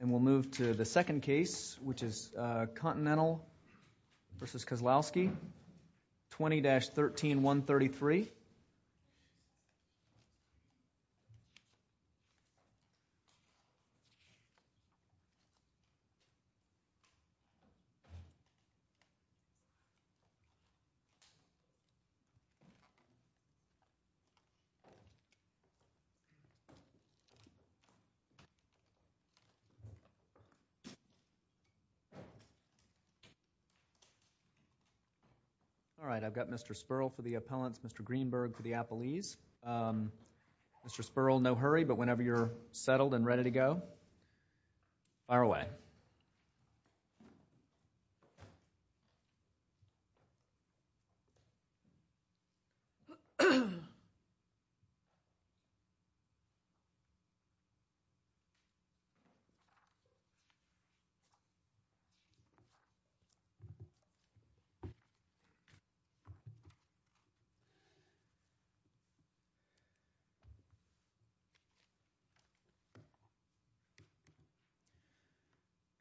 And we'll move to the second case, which is Continental v. Kozlowski, 20-13133. All right, I've got Mr. Sperl for the appellants, Mr. Greenberg for the appellees. Mr. Sperl, no hurry, but whenever you're settled and ready to go, fire away. All right.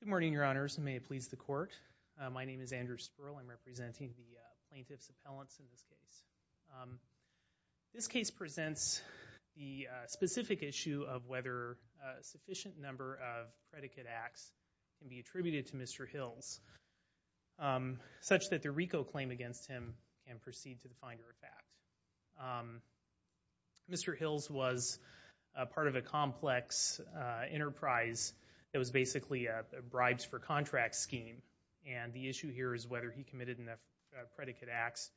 Good morning, your honors, and may it please the court. My name is Andrew Sperl. I'm representing the plaintiff's appellants in this case. This case presents the specific issue of whether a sufficient number of predicate acts can be attributed to Mr. Hills, such that the RICO claim against him can proceed to the finder of fact. Mr. Hills was part of a complex enterprise that was basically a bribes-for-contracts scheme, and the issue here is whether he committed enough predicate acts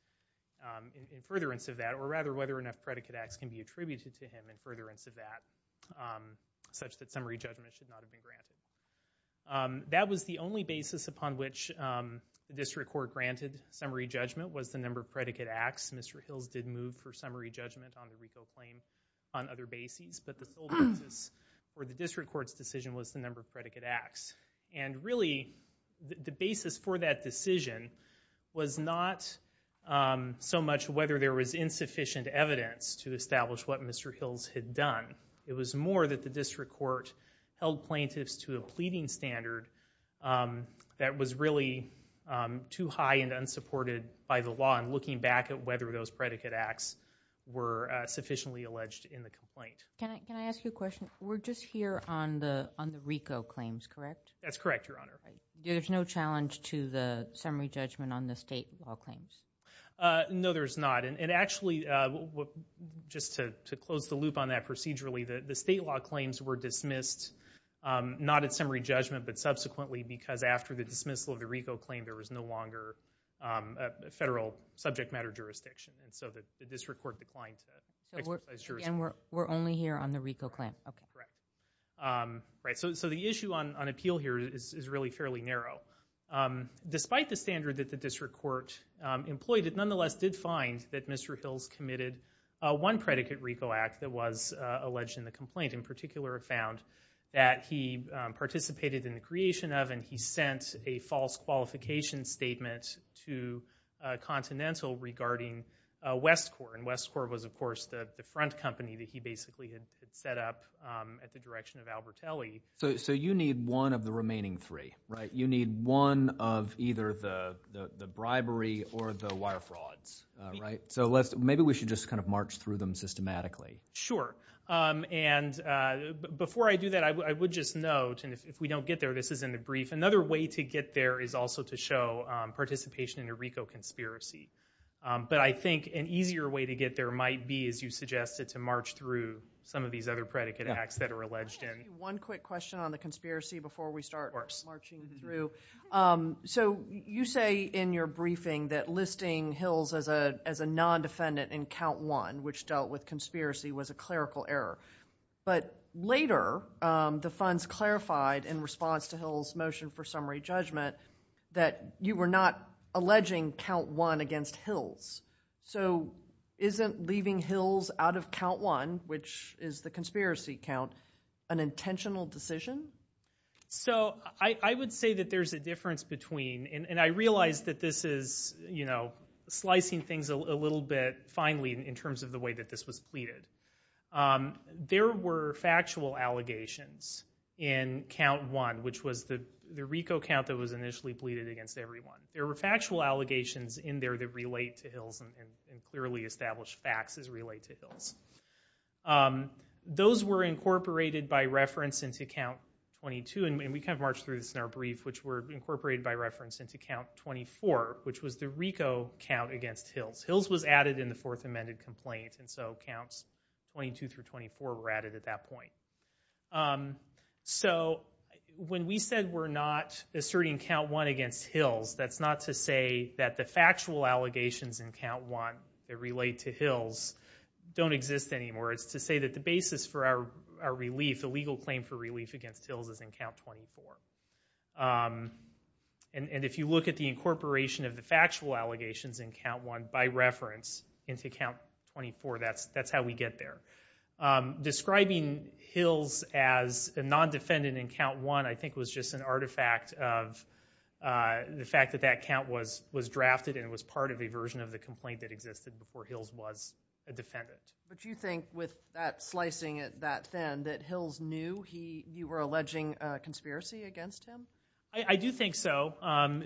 in furtherance of that, or rather whether enough predicate acts can be attributed to him in furtherance of that, such that summary judgment should not have been granted. That was the only basis upon which the district court granted summary judgment was the number of predicate acts Mr. Hills did move for summary judgment on the RICO claim on other bases, but the sole basis for the district court's decision was the number of predicate acts. And really, the basis for that decision was not so much whether there was insufficient evidence to establish what Mr. Hills had done. It was more that the district court held plaintiffs to a pleading standard that was really too high and unsupported by the law on looking back at whether those predicate acts were sufficiently alleged in the complaint. Can I ask you a question? We're just here on the RICO claims, correct? That's correct, Your Honor. There's no challenge to the summary judgment on the state law claims? No, there's not. And actually, just to close the loop on that procedurally, the state law claims were dismissed not at summary judgment, but subsequently, because after the dismissal of the RICO claim, there was no longer a federal subject matter jurisdiction. And so the district court declined to exercise jurisdiction. We're only here on the RICO claim? Correct. So the issue on appeal here is really fairly narrow. Despite the standard that the district court employed, it nonetheless did find that Mr. Hills committed one predicate RICO act that was alleged in the complaint. In particular, it found that he participated in the creation of and he sent a false qualification statement to Continental regarding Westcorp. And Westcorp was, of course, the front company that he basically had set up at the direction of Albertelli. So you need one of the remaining three, right? You need one of either the bribery or the wire frauds, right? So maybe we should just kind of march through them systematically. Sure. And before I do that, I would just note, and if we don't get there, this isn't a brief. Another way to get there is also to show participation in a RICO conspiracy. But I think an easier way to get there might be, as you suggested, to march through some of these other predicate acts that are alleged in. One quick question on the conspiracy before we start marching through. So you say in your briefing that listing Hills as a non-defendant in count one, which dealt with conspiracy, was a clerical error. But later, the funds clarified in response to Hills' motion for summary judgment that you were not alleging count one against Hills. So isn't leaving Hills out of count one, which is the conspiracy count, an intentional decision? So I would say that there's a difference between, and I realize that this is slicing things a little bit finely in terms of the way that this was pleaded. There were factual allegations in count one, which was the RICO count that was initially pleaded against everyone. There were factual allegations in there that relate to Hills, and clearly established facts as relate to Hills. Those were incorporated by reference into count 22, and we kind of marched through this in our brief, which were incorporated by reference into count 24, which was the RICO count against Hills. Hills was added in the fourth amended complaint, and so counts 22 through 24 were added at that point. So when we said we're not asserting count one against Hills, that's not to say that the factual allegations in count one that relate to Hills don't exist anymore. It's to say that the basis for our relief, the legal claim for relief against Hills is in count 24. And if you look at the incorporation of the factual allegations in count one by reference into count 24, that's how we get there. Describing Hills as a non-defendant in count one, I think, was just an artifact of the fact that that count was drafted and was part of a version of the complaint that existed before Hills was a defendant. But you think with that slicing it that thin, that Hills knew you were alleging a conspiracy against him? I do think so.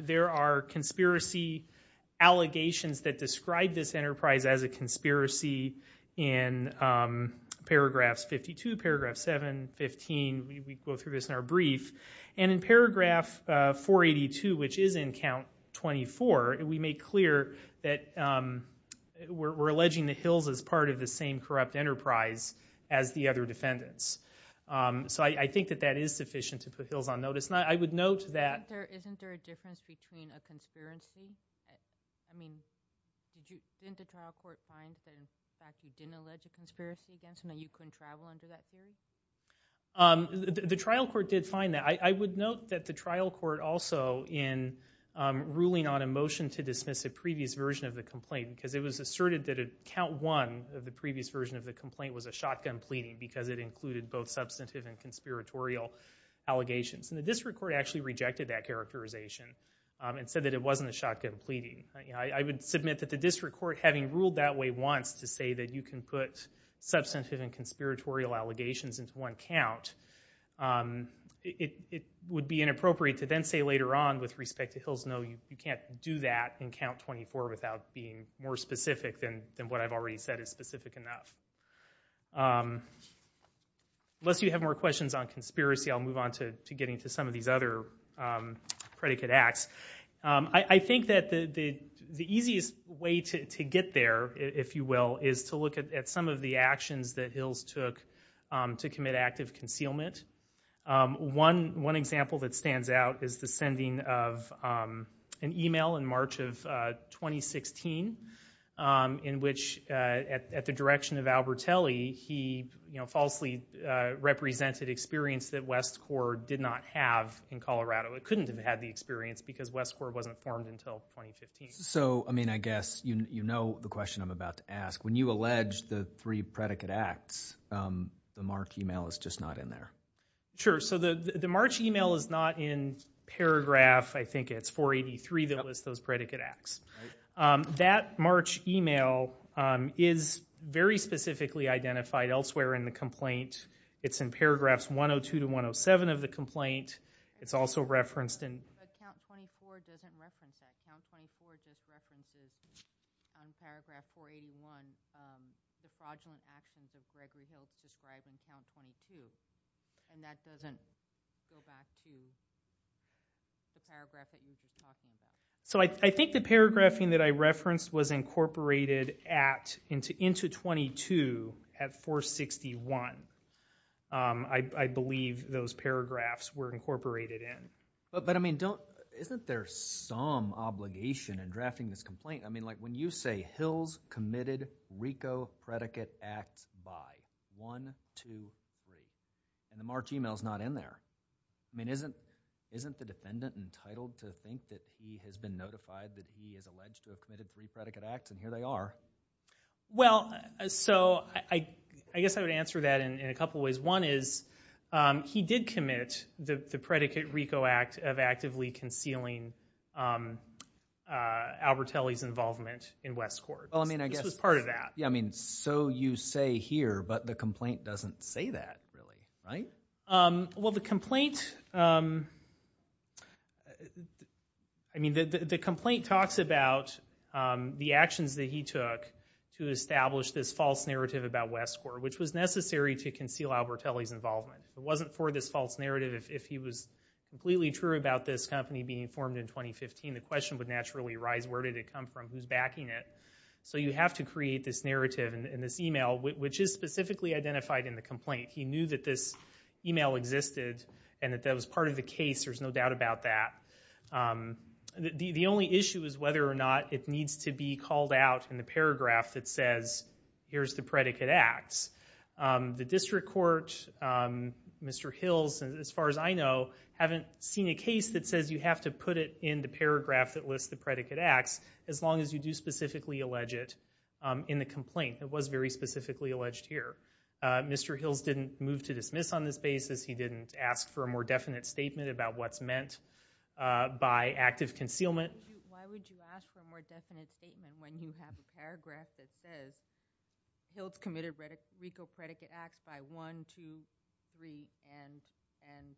There are conspiracy allegations that describe this enterprise as a conspiracy in paragraphs 52, paragraph 7, 15. And in paragraph 482, which is in count 24, we make clear that we're alleging that Hills is part of the same corrupt enterprise as the other defendants. So I think that that is sufficient to put Hills on notice. Isn't there a difference between a conspiracy? Didn't the trial court find that you didn't allege a conspiracy against him and you couldn't travel under that theory? The trial court did find that. I would note that the trial court also, in ruling on a motion to dismiss a previous version of the complaint, because it was asserted that count one of the previous version of the complaint was a shotgun pleading because it included both substantive and conspiratorial allegations. And the district court actually rejected that characterization and said that it wasn't a shotgun pleading. I would submit that the district court, having ruled that way once to say that you can put substantive and conspiratorial allegations into one count, it would be inappropriate to then say later on with respect to Hills, no, you can't do that in count 24 without being more specific than what I've already said is specific enough. Unless you have more questions on conspiracy, I'll move on to getting to some of these other predicate acts. I think that the easiest way to get there, if you will, is to look at some of the actions that Hills took to commit active concealment. One example that stands out is the sending of an email in March of 2016 in which, at the direction of Albert Telly, he falsely represented experience that West Court did not have in Colorado. It couldn't have had the experience because West Court wasn't formed until 2015. So, I mean, I guess you know the question I'm about to ask. When you allege the three predicate acts, the March email is just not in there. Sure. So the March email is not in paragraph, I think it's 483 that lists those predicate acts. That March email is very specifically identified elsewhere in the complaint. It's in paragraphs 102 to 107 of the complaint. It's also referenced in- But count 24 doesn't reference that. Count 24 just references, on paragraph 481, the fraudulent actions of Gregory Hills described in count 22. And that doesn't go back to the paragraph that you were just talking about. So I think the paragraphing that I referenced was incorporated into 22 at 461. I believe those paragraphs were incorporated in. But, I mean, isn't there some obligation in drafting this complaint? I mean, like when you say Hills committed RICO predicate acts by 1, 2, 3, and the March email is not in there. I mean, isn't the defendant entitled to think that he has been notified that he is alleged to have committed three predicate acts? And here they are. Well, so I guess I would answer that in a couple of ways. One is he did commit the predicate RICO act of actively concealing Albertelli's involvement in Westcourt. This was part of that. Yeah, I mean, so you say here, but the complaint doesn't say that really, right? Well, the complaint talks about the actions that he took to establish this false narrative about Westcourt, which was necessary to conceal Albertelli's involvement. If it wasn't for this false narrative, if he was completely true about this company being formed in 2015, the question would naturally arise, where did it come from? Who's backing it? So you have to create this narrative in this email, which is specifically identified in the complaint. He knew that this email existed and that that was part of the case. There's no doubt about that. The only issue is whether or not it needs to be called out in the paragraph that says, here's the predicate acts. The district court, Mr. Hills, as far as I know, haven't seen a case that says you have to put it in the paragraph that lists the predicate acts, as long as you do specifically allege it in the complaint. It was very specifically alleged here. Mr. Hills didn't move to dismiss on this basis. He didn't ask for a more definite statement about what's meant by active concealment. Why would you ask for a more definite statement when you have a paragraph that says, Hills committed RICO predicate acts by 1, 2, 3, and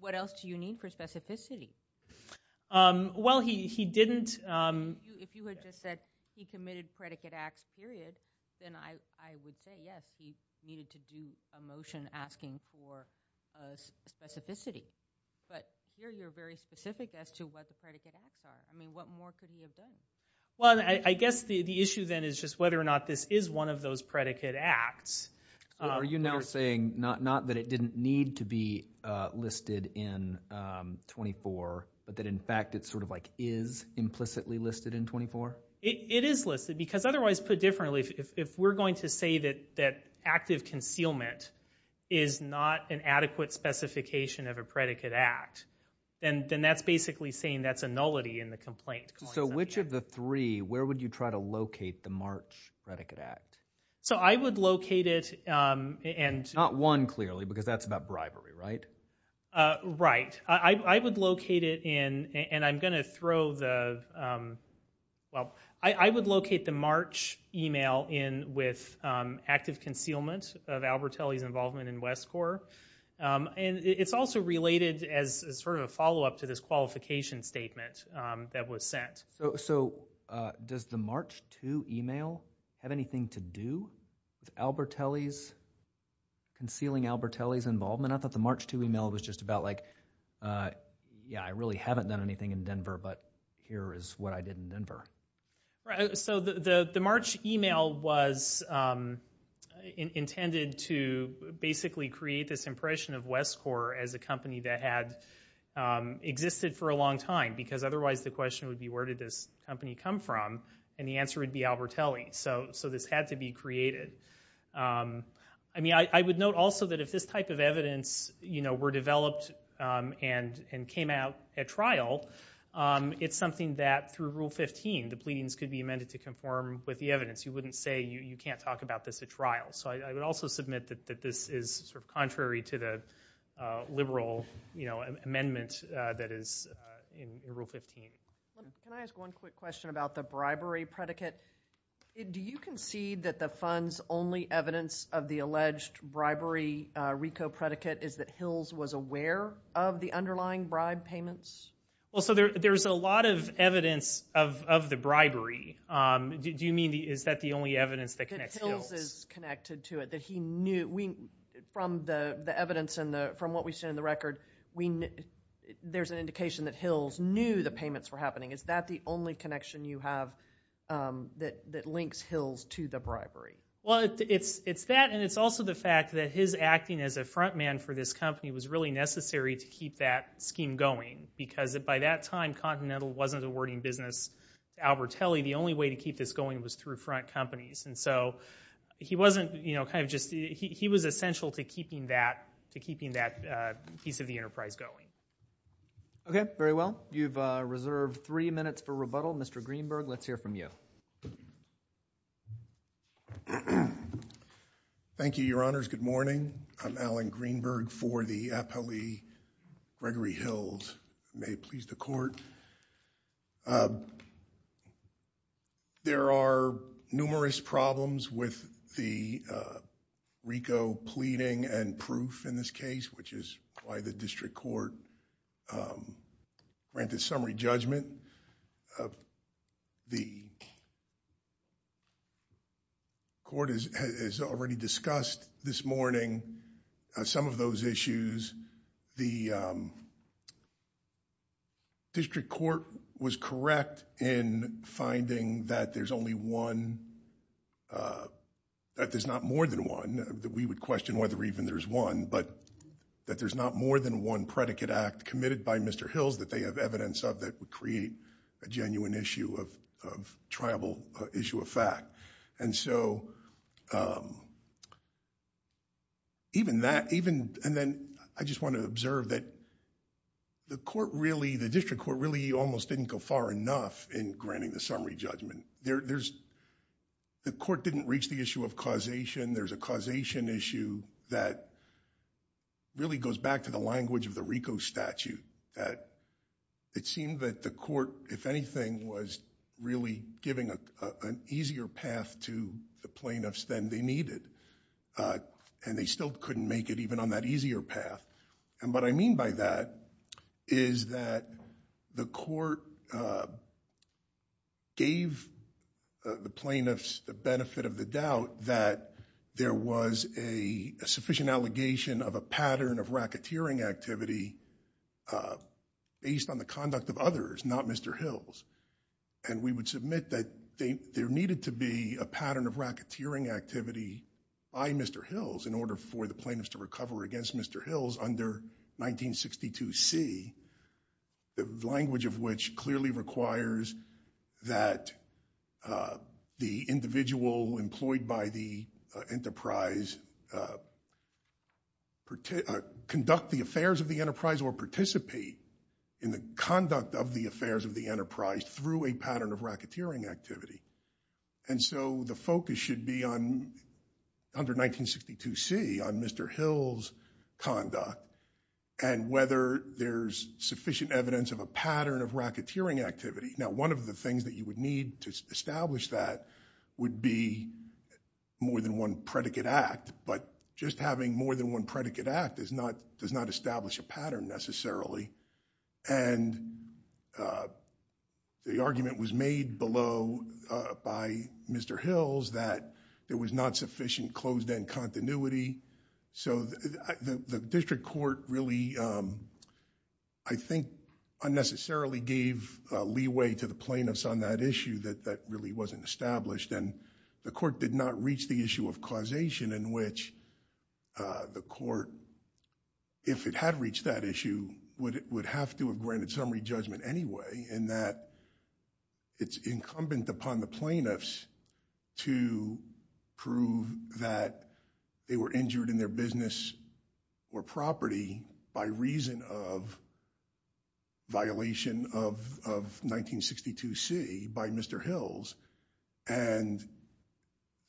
what else do you need for specificity? Well, he didn't. If you had just said he committed predicate acts, period, then I would say, yes, he needed to do a motion asking for specificity. But here you're very specific as to what the predicate acts are. I mean, what more could he have done? Well, I guess the issue then is just whether or not this is one of those predicate acts. So are you now saying not that it didn't need to be listed in 24, but that, in fact, it sort of like is implicitly listed in 24? It is listed, because otherwise, put differently, if we're going to say that active concealment is not an adequate specification of a predicate act, then that's basically saying that's a nullity in the complaint. So which of the three, where would you try to locate the March predicate act? So I would locate it. Not one, clearly, because that's about bribery, right? Right. I would locate it in, and I'm going to throw the, well, I would locate the March email in with active concealment of Albertelli's involvement in West Corp. And it's also related as sort of a follow-up to this qualification statement that was sent. So does the March 2 email have anything to do with Albertelli's, concealing Albertelli's involvement? I thought the March 2 email was just about like, yeah, I really haven't done anything in Denver, but here is what I did in Denver. Right. So the March email was intended to basically create this impression of West Corp. as a company that had existed for a long time, because otherwise the question would be where did this company come from, and the answer would be Albertelli. So this had to be created. I mean, I would note also that if this type of evidence were developed and came out at trial, it's something that through Rule 15 the pleadings could be amended to conform with the evidence. You wouldn't say you can't talk about this at trial. So I would also submit that this is sort of contrary to the liberal amendment that is in Rule 15. Can I ask one quick question about the bribery predicate? Do you concede that the fund's only evidence of the alleged bribery RICO predicate is that Hills was aware of the underlying bribe payments? Well, so there's a lot of evidence of the bribery. Do you mean is that the only evidence that connects Hills? That Hills is connected to it, that he knew. From the evidence and from what we've seen in the record, there's an indication that Hills knew the payments were happening. Is that the only connection you have that links Hills to the bribery? Well, it's that and it's also the fact that his acting as a front man for this company was really necessary to keep that scheme going because by that time, Continental wasn't awarding business to Albertelli. The only way to keep this going was through front companies. And so he was essential to keeping that piece of the enterprise going. Okay, very well. You've reserved three minutes for rebuttal. Mr. Greenberg, let's hear from you. Thank you, Your Honors. Good morning. I'm Alan Greenberg for the Apolli Gregory Hills. May it please the court. There are numerous problems with the RICO pleading and proof in this case, which is why the district court granted summary judgment. The court has already discussed this morning some of those issues. The district court was correct in finding that there's only one, that there's not more than one. We would question whether even there's one, but that there's not more than one predicate act committed by Mr. Hills that they have evidence of that would create a genuine issue of tribal issue of fact. And so even that, and then I just want to observe that the court really, the district court really almost didn't go far enough in granting the summary judgment. The court didn't reach the issue of causation. There's a causation issue that really goes back to the language of the RICO statute, that it seemed that the court, if anything, was really giving an easier path to the plaintiffs than they needed, and they still couldn't make it even on that easier path. And what I mean by that is that the court gave the plaintiffs the benefit of the doubt that there was a sufficient allegation of a pattern of racketeering activity based on the conduct of others, not Mr. Hills. And we would submit that there needed to be a pattern of racketeering activity by Mr. Hills in order for the plaintiffs to recover against Mr. Hills under 1962C, the language of which clearly requires that the individual employed by the enterprise conduct the affairs of the enterprise or participate in the conduct of the affairs of the enterprise through a pattern of racketeering activity. And so the focus should be under 1962C on Mr. Hills' conduct and whether there's sufficient evidence of a pattern of racketeering activity. Now, one of the things that you would need to establish that would be more than one predicate act, but just having more than one predicate act does not establish a pattern necessarily. And the argument was made below by Mr. Hills that there was not sufficient closed-end continuity. So the district court really, I think, unnecessarily gave leeway to the plaintiffs on that issue that really wasn't established. And the court did not reach the issue of causation in which the court, if it had reached that issue, would have to have granted summary judgment anyway in that it's incumbent upon the plaintiffs to prove that they were injured in their business or property by reason of violation of 1962C by Mr. Hills. And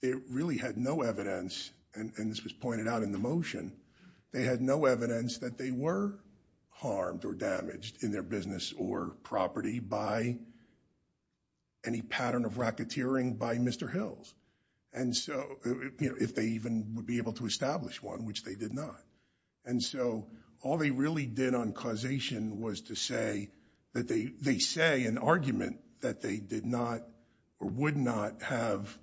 they really had no evidence, and this was pointed out in the motion, they had no evidence that they were harmed or damaged in their business or property by any pattern of racketeering by Mr. Hills. And so if they even would be able to establish one, which they did not. And so all they really did on causation was to say that they say in argument that they did not or would not have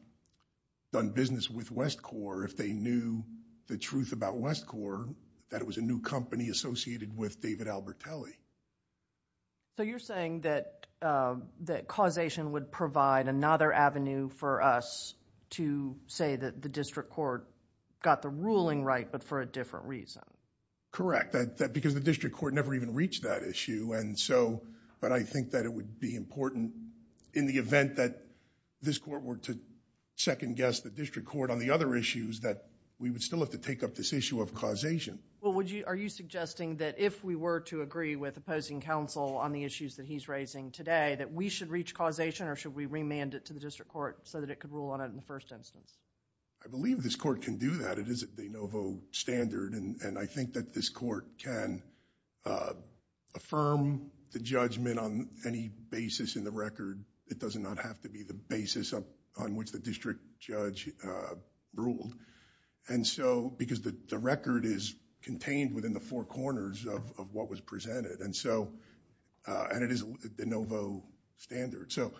done business with Westcorp if they knew the truth about Westcorp, that it was a new company associated with David Albertelli. So you're saying that causation would provide another avenue for us to say that the district court got the ruling right, but for a different reason. Correct, because the district court never even reached that issue. But I think that it would be important in the event that this court were to second-guess the district court on the other issues that we would still have to take up this issue of causation. Well, are you suggesting that if we were to agree with opposing counsel on the issues that he's raising today, that we should reach causation or should we remand it to the district court so that it could rule on it in the first instance? I believe this court can do that. It is a de novo standard, and I think that this court can affirm the judgment on any basis in the record. It does not have to be the basis on which the district judge ruled, because the record is contained within the four corners of what was presented, and it is a de novo standard. So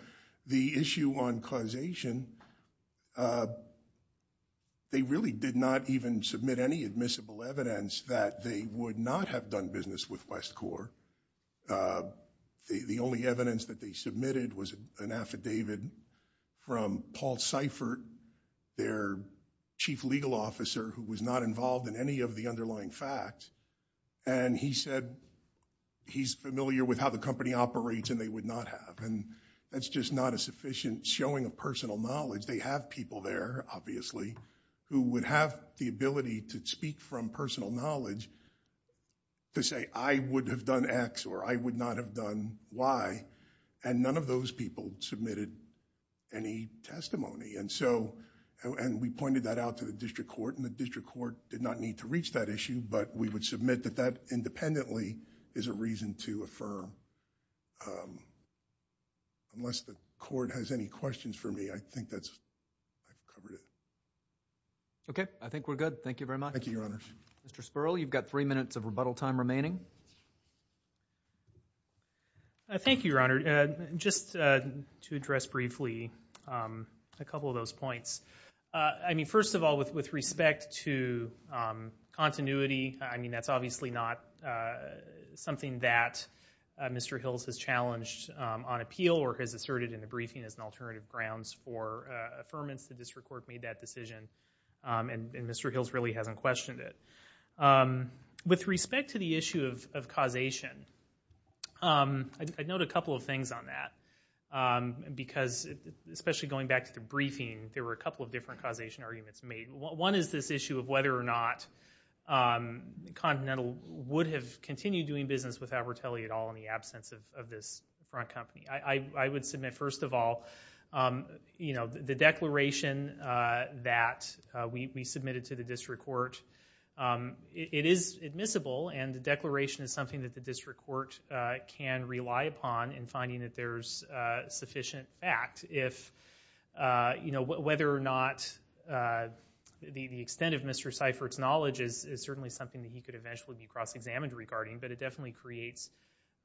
the issue on causation, they really did not even submit any admissible evidence that they would not have done business with West Corps. The only evidence that they submitted was an affidavit from Paul Seifert, their chief legal officer who was not involved in any of the underlying facts, and he said he's familiar with how the company operates and they would not have. And that's just not a sufficient showing of personal knowledge. They have people there, obviously, who would have the ability to speak from personal knowledge to say I would have done X or I would not have done Y, and none of those people submitted any testimony. And so we pointed that out to the district court, and the district court did not need to reach that issue, but we would submit that that independently is a reason to affirm. Unless the court has any questions for me, I think I've covered it. Okay. I think we're good. Thank you very much. Thank you, Your Honors. Mr. Sperl, you've got three minutes of rebuttal time remaining. Thank you, Your Honor. Just to address briefly a couple of those points. I mean, first of all, with respect to continuity, I mean that's obviously not something that Mr. Hills has challenged on appeal or has asserted in the briefing as an alternative grounds for affirmance. The district court made that decision, and Mr. Hills really hasn't questioned it. With respect to the issue of causation, I'd note a couple of things on that, because especially going back to the briefing, there were a couple of different causation arguments made. One is this issue of whether or not Continental would have continued doing business with Abertelli at all in the absence of this front company. I would submit, first of all, the declaration that we submitted to the district court, it is admissible, and the declaration is something that the district court can rely upon in finding that there's sufficient fact. Whether or not the extent of Mr. Seifert's knowledge is certainly something that he could eventually be cross-examined regarding, but it definitely creates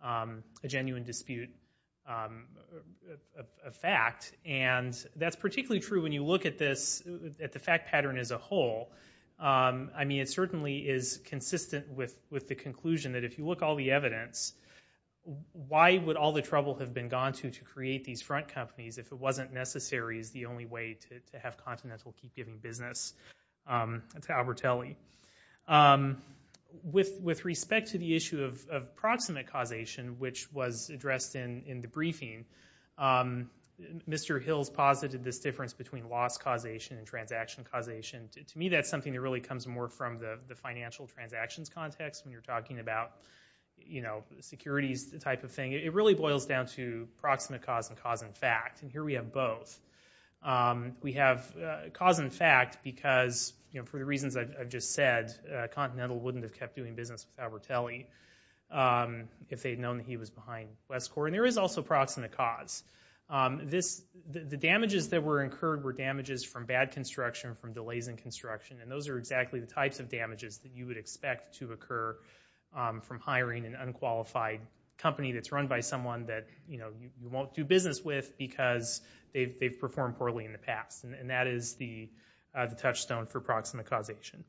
a genuine dispute of fact, and that's particularly true when you look at the fact pattern as a whole. I mean, it certainly is consistent with the conclusion that if you look at all the evidence, why would all the trouble have been gone to to create these front companies if it wasn't necessary as the only way to have Continental keep giving business to Abertelli? With respect to the issue of proximate causation, which was addressed in the briefing, Mr. Hills posited this difference between loss causation and transaction causation. To me, that's something that really comes more from the financial transactions context when you're talking about securities type of thing. It really boils down to proximate cause and cause in fact, and here we have both. We have cause in fact because, for the reasons I've just said, Continental wouldn't have kept doing business with Abertelli if they'd known that he was behind Westcorp, and there is also proximate cause. The damages that were incurred were damages from bad construction, from delays in construction, and those are exactly the types of damages that you would expect to occur from hiring an unqualified company that's run by someone that you won't do business with because they've performed poorly in the past, and that is the touchstone for proximate causation.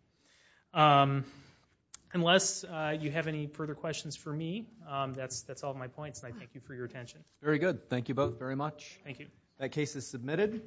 Unless you have any further questions for me, that's all of my points, and I thank you for your attention. Very good. Thank you both very much. Thank you. That case is submitted.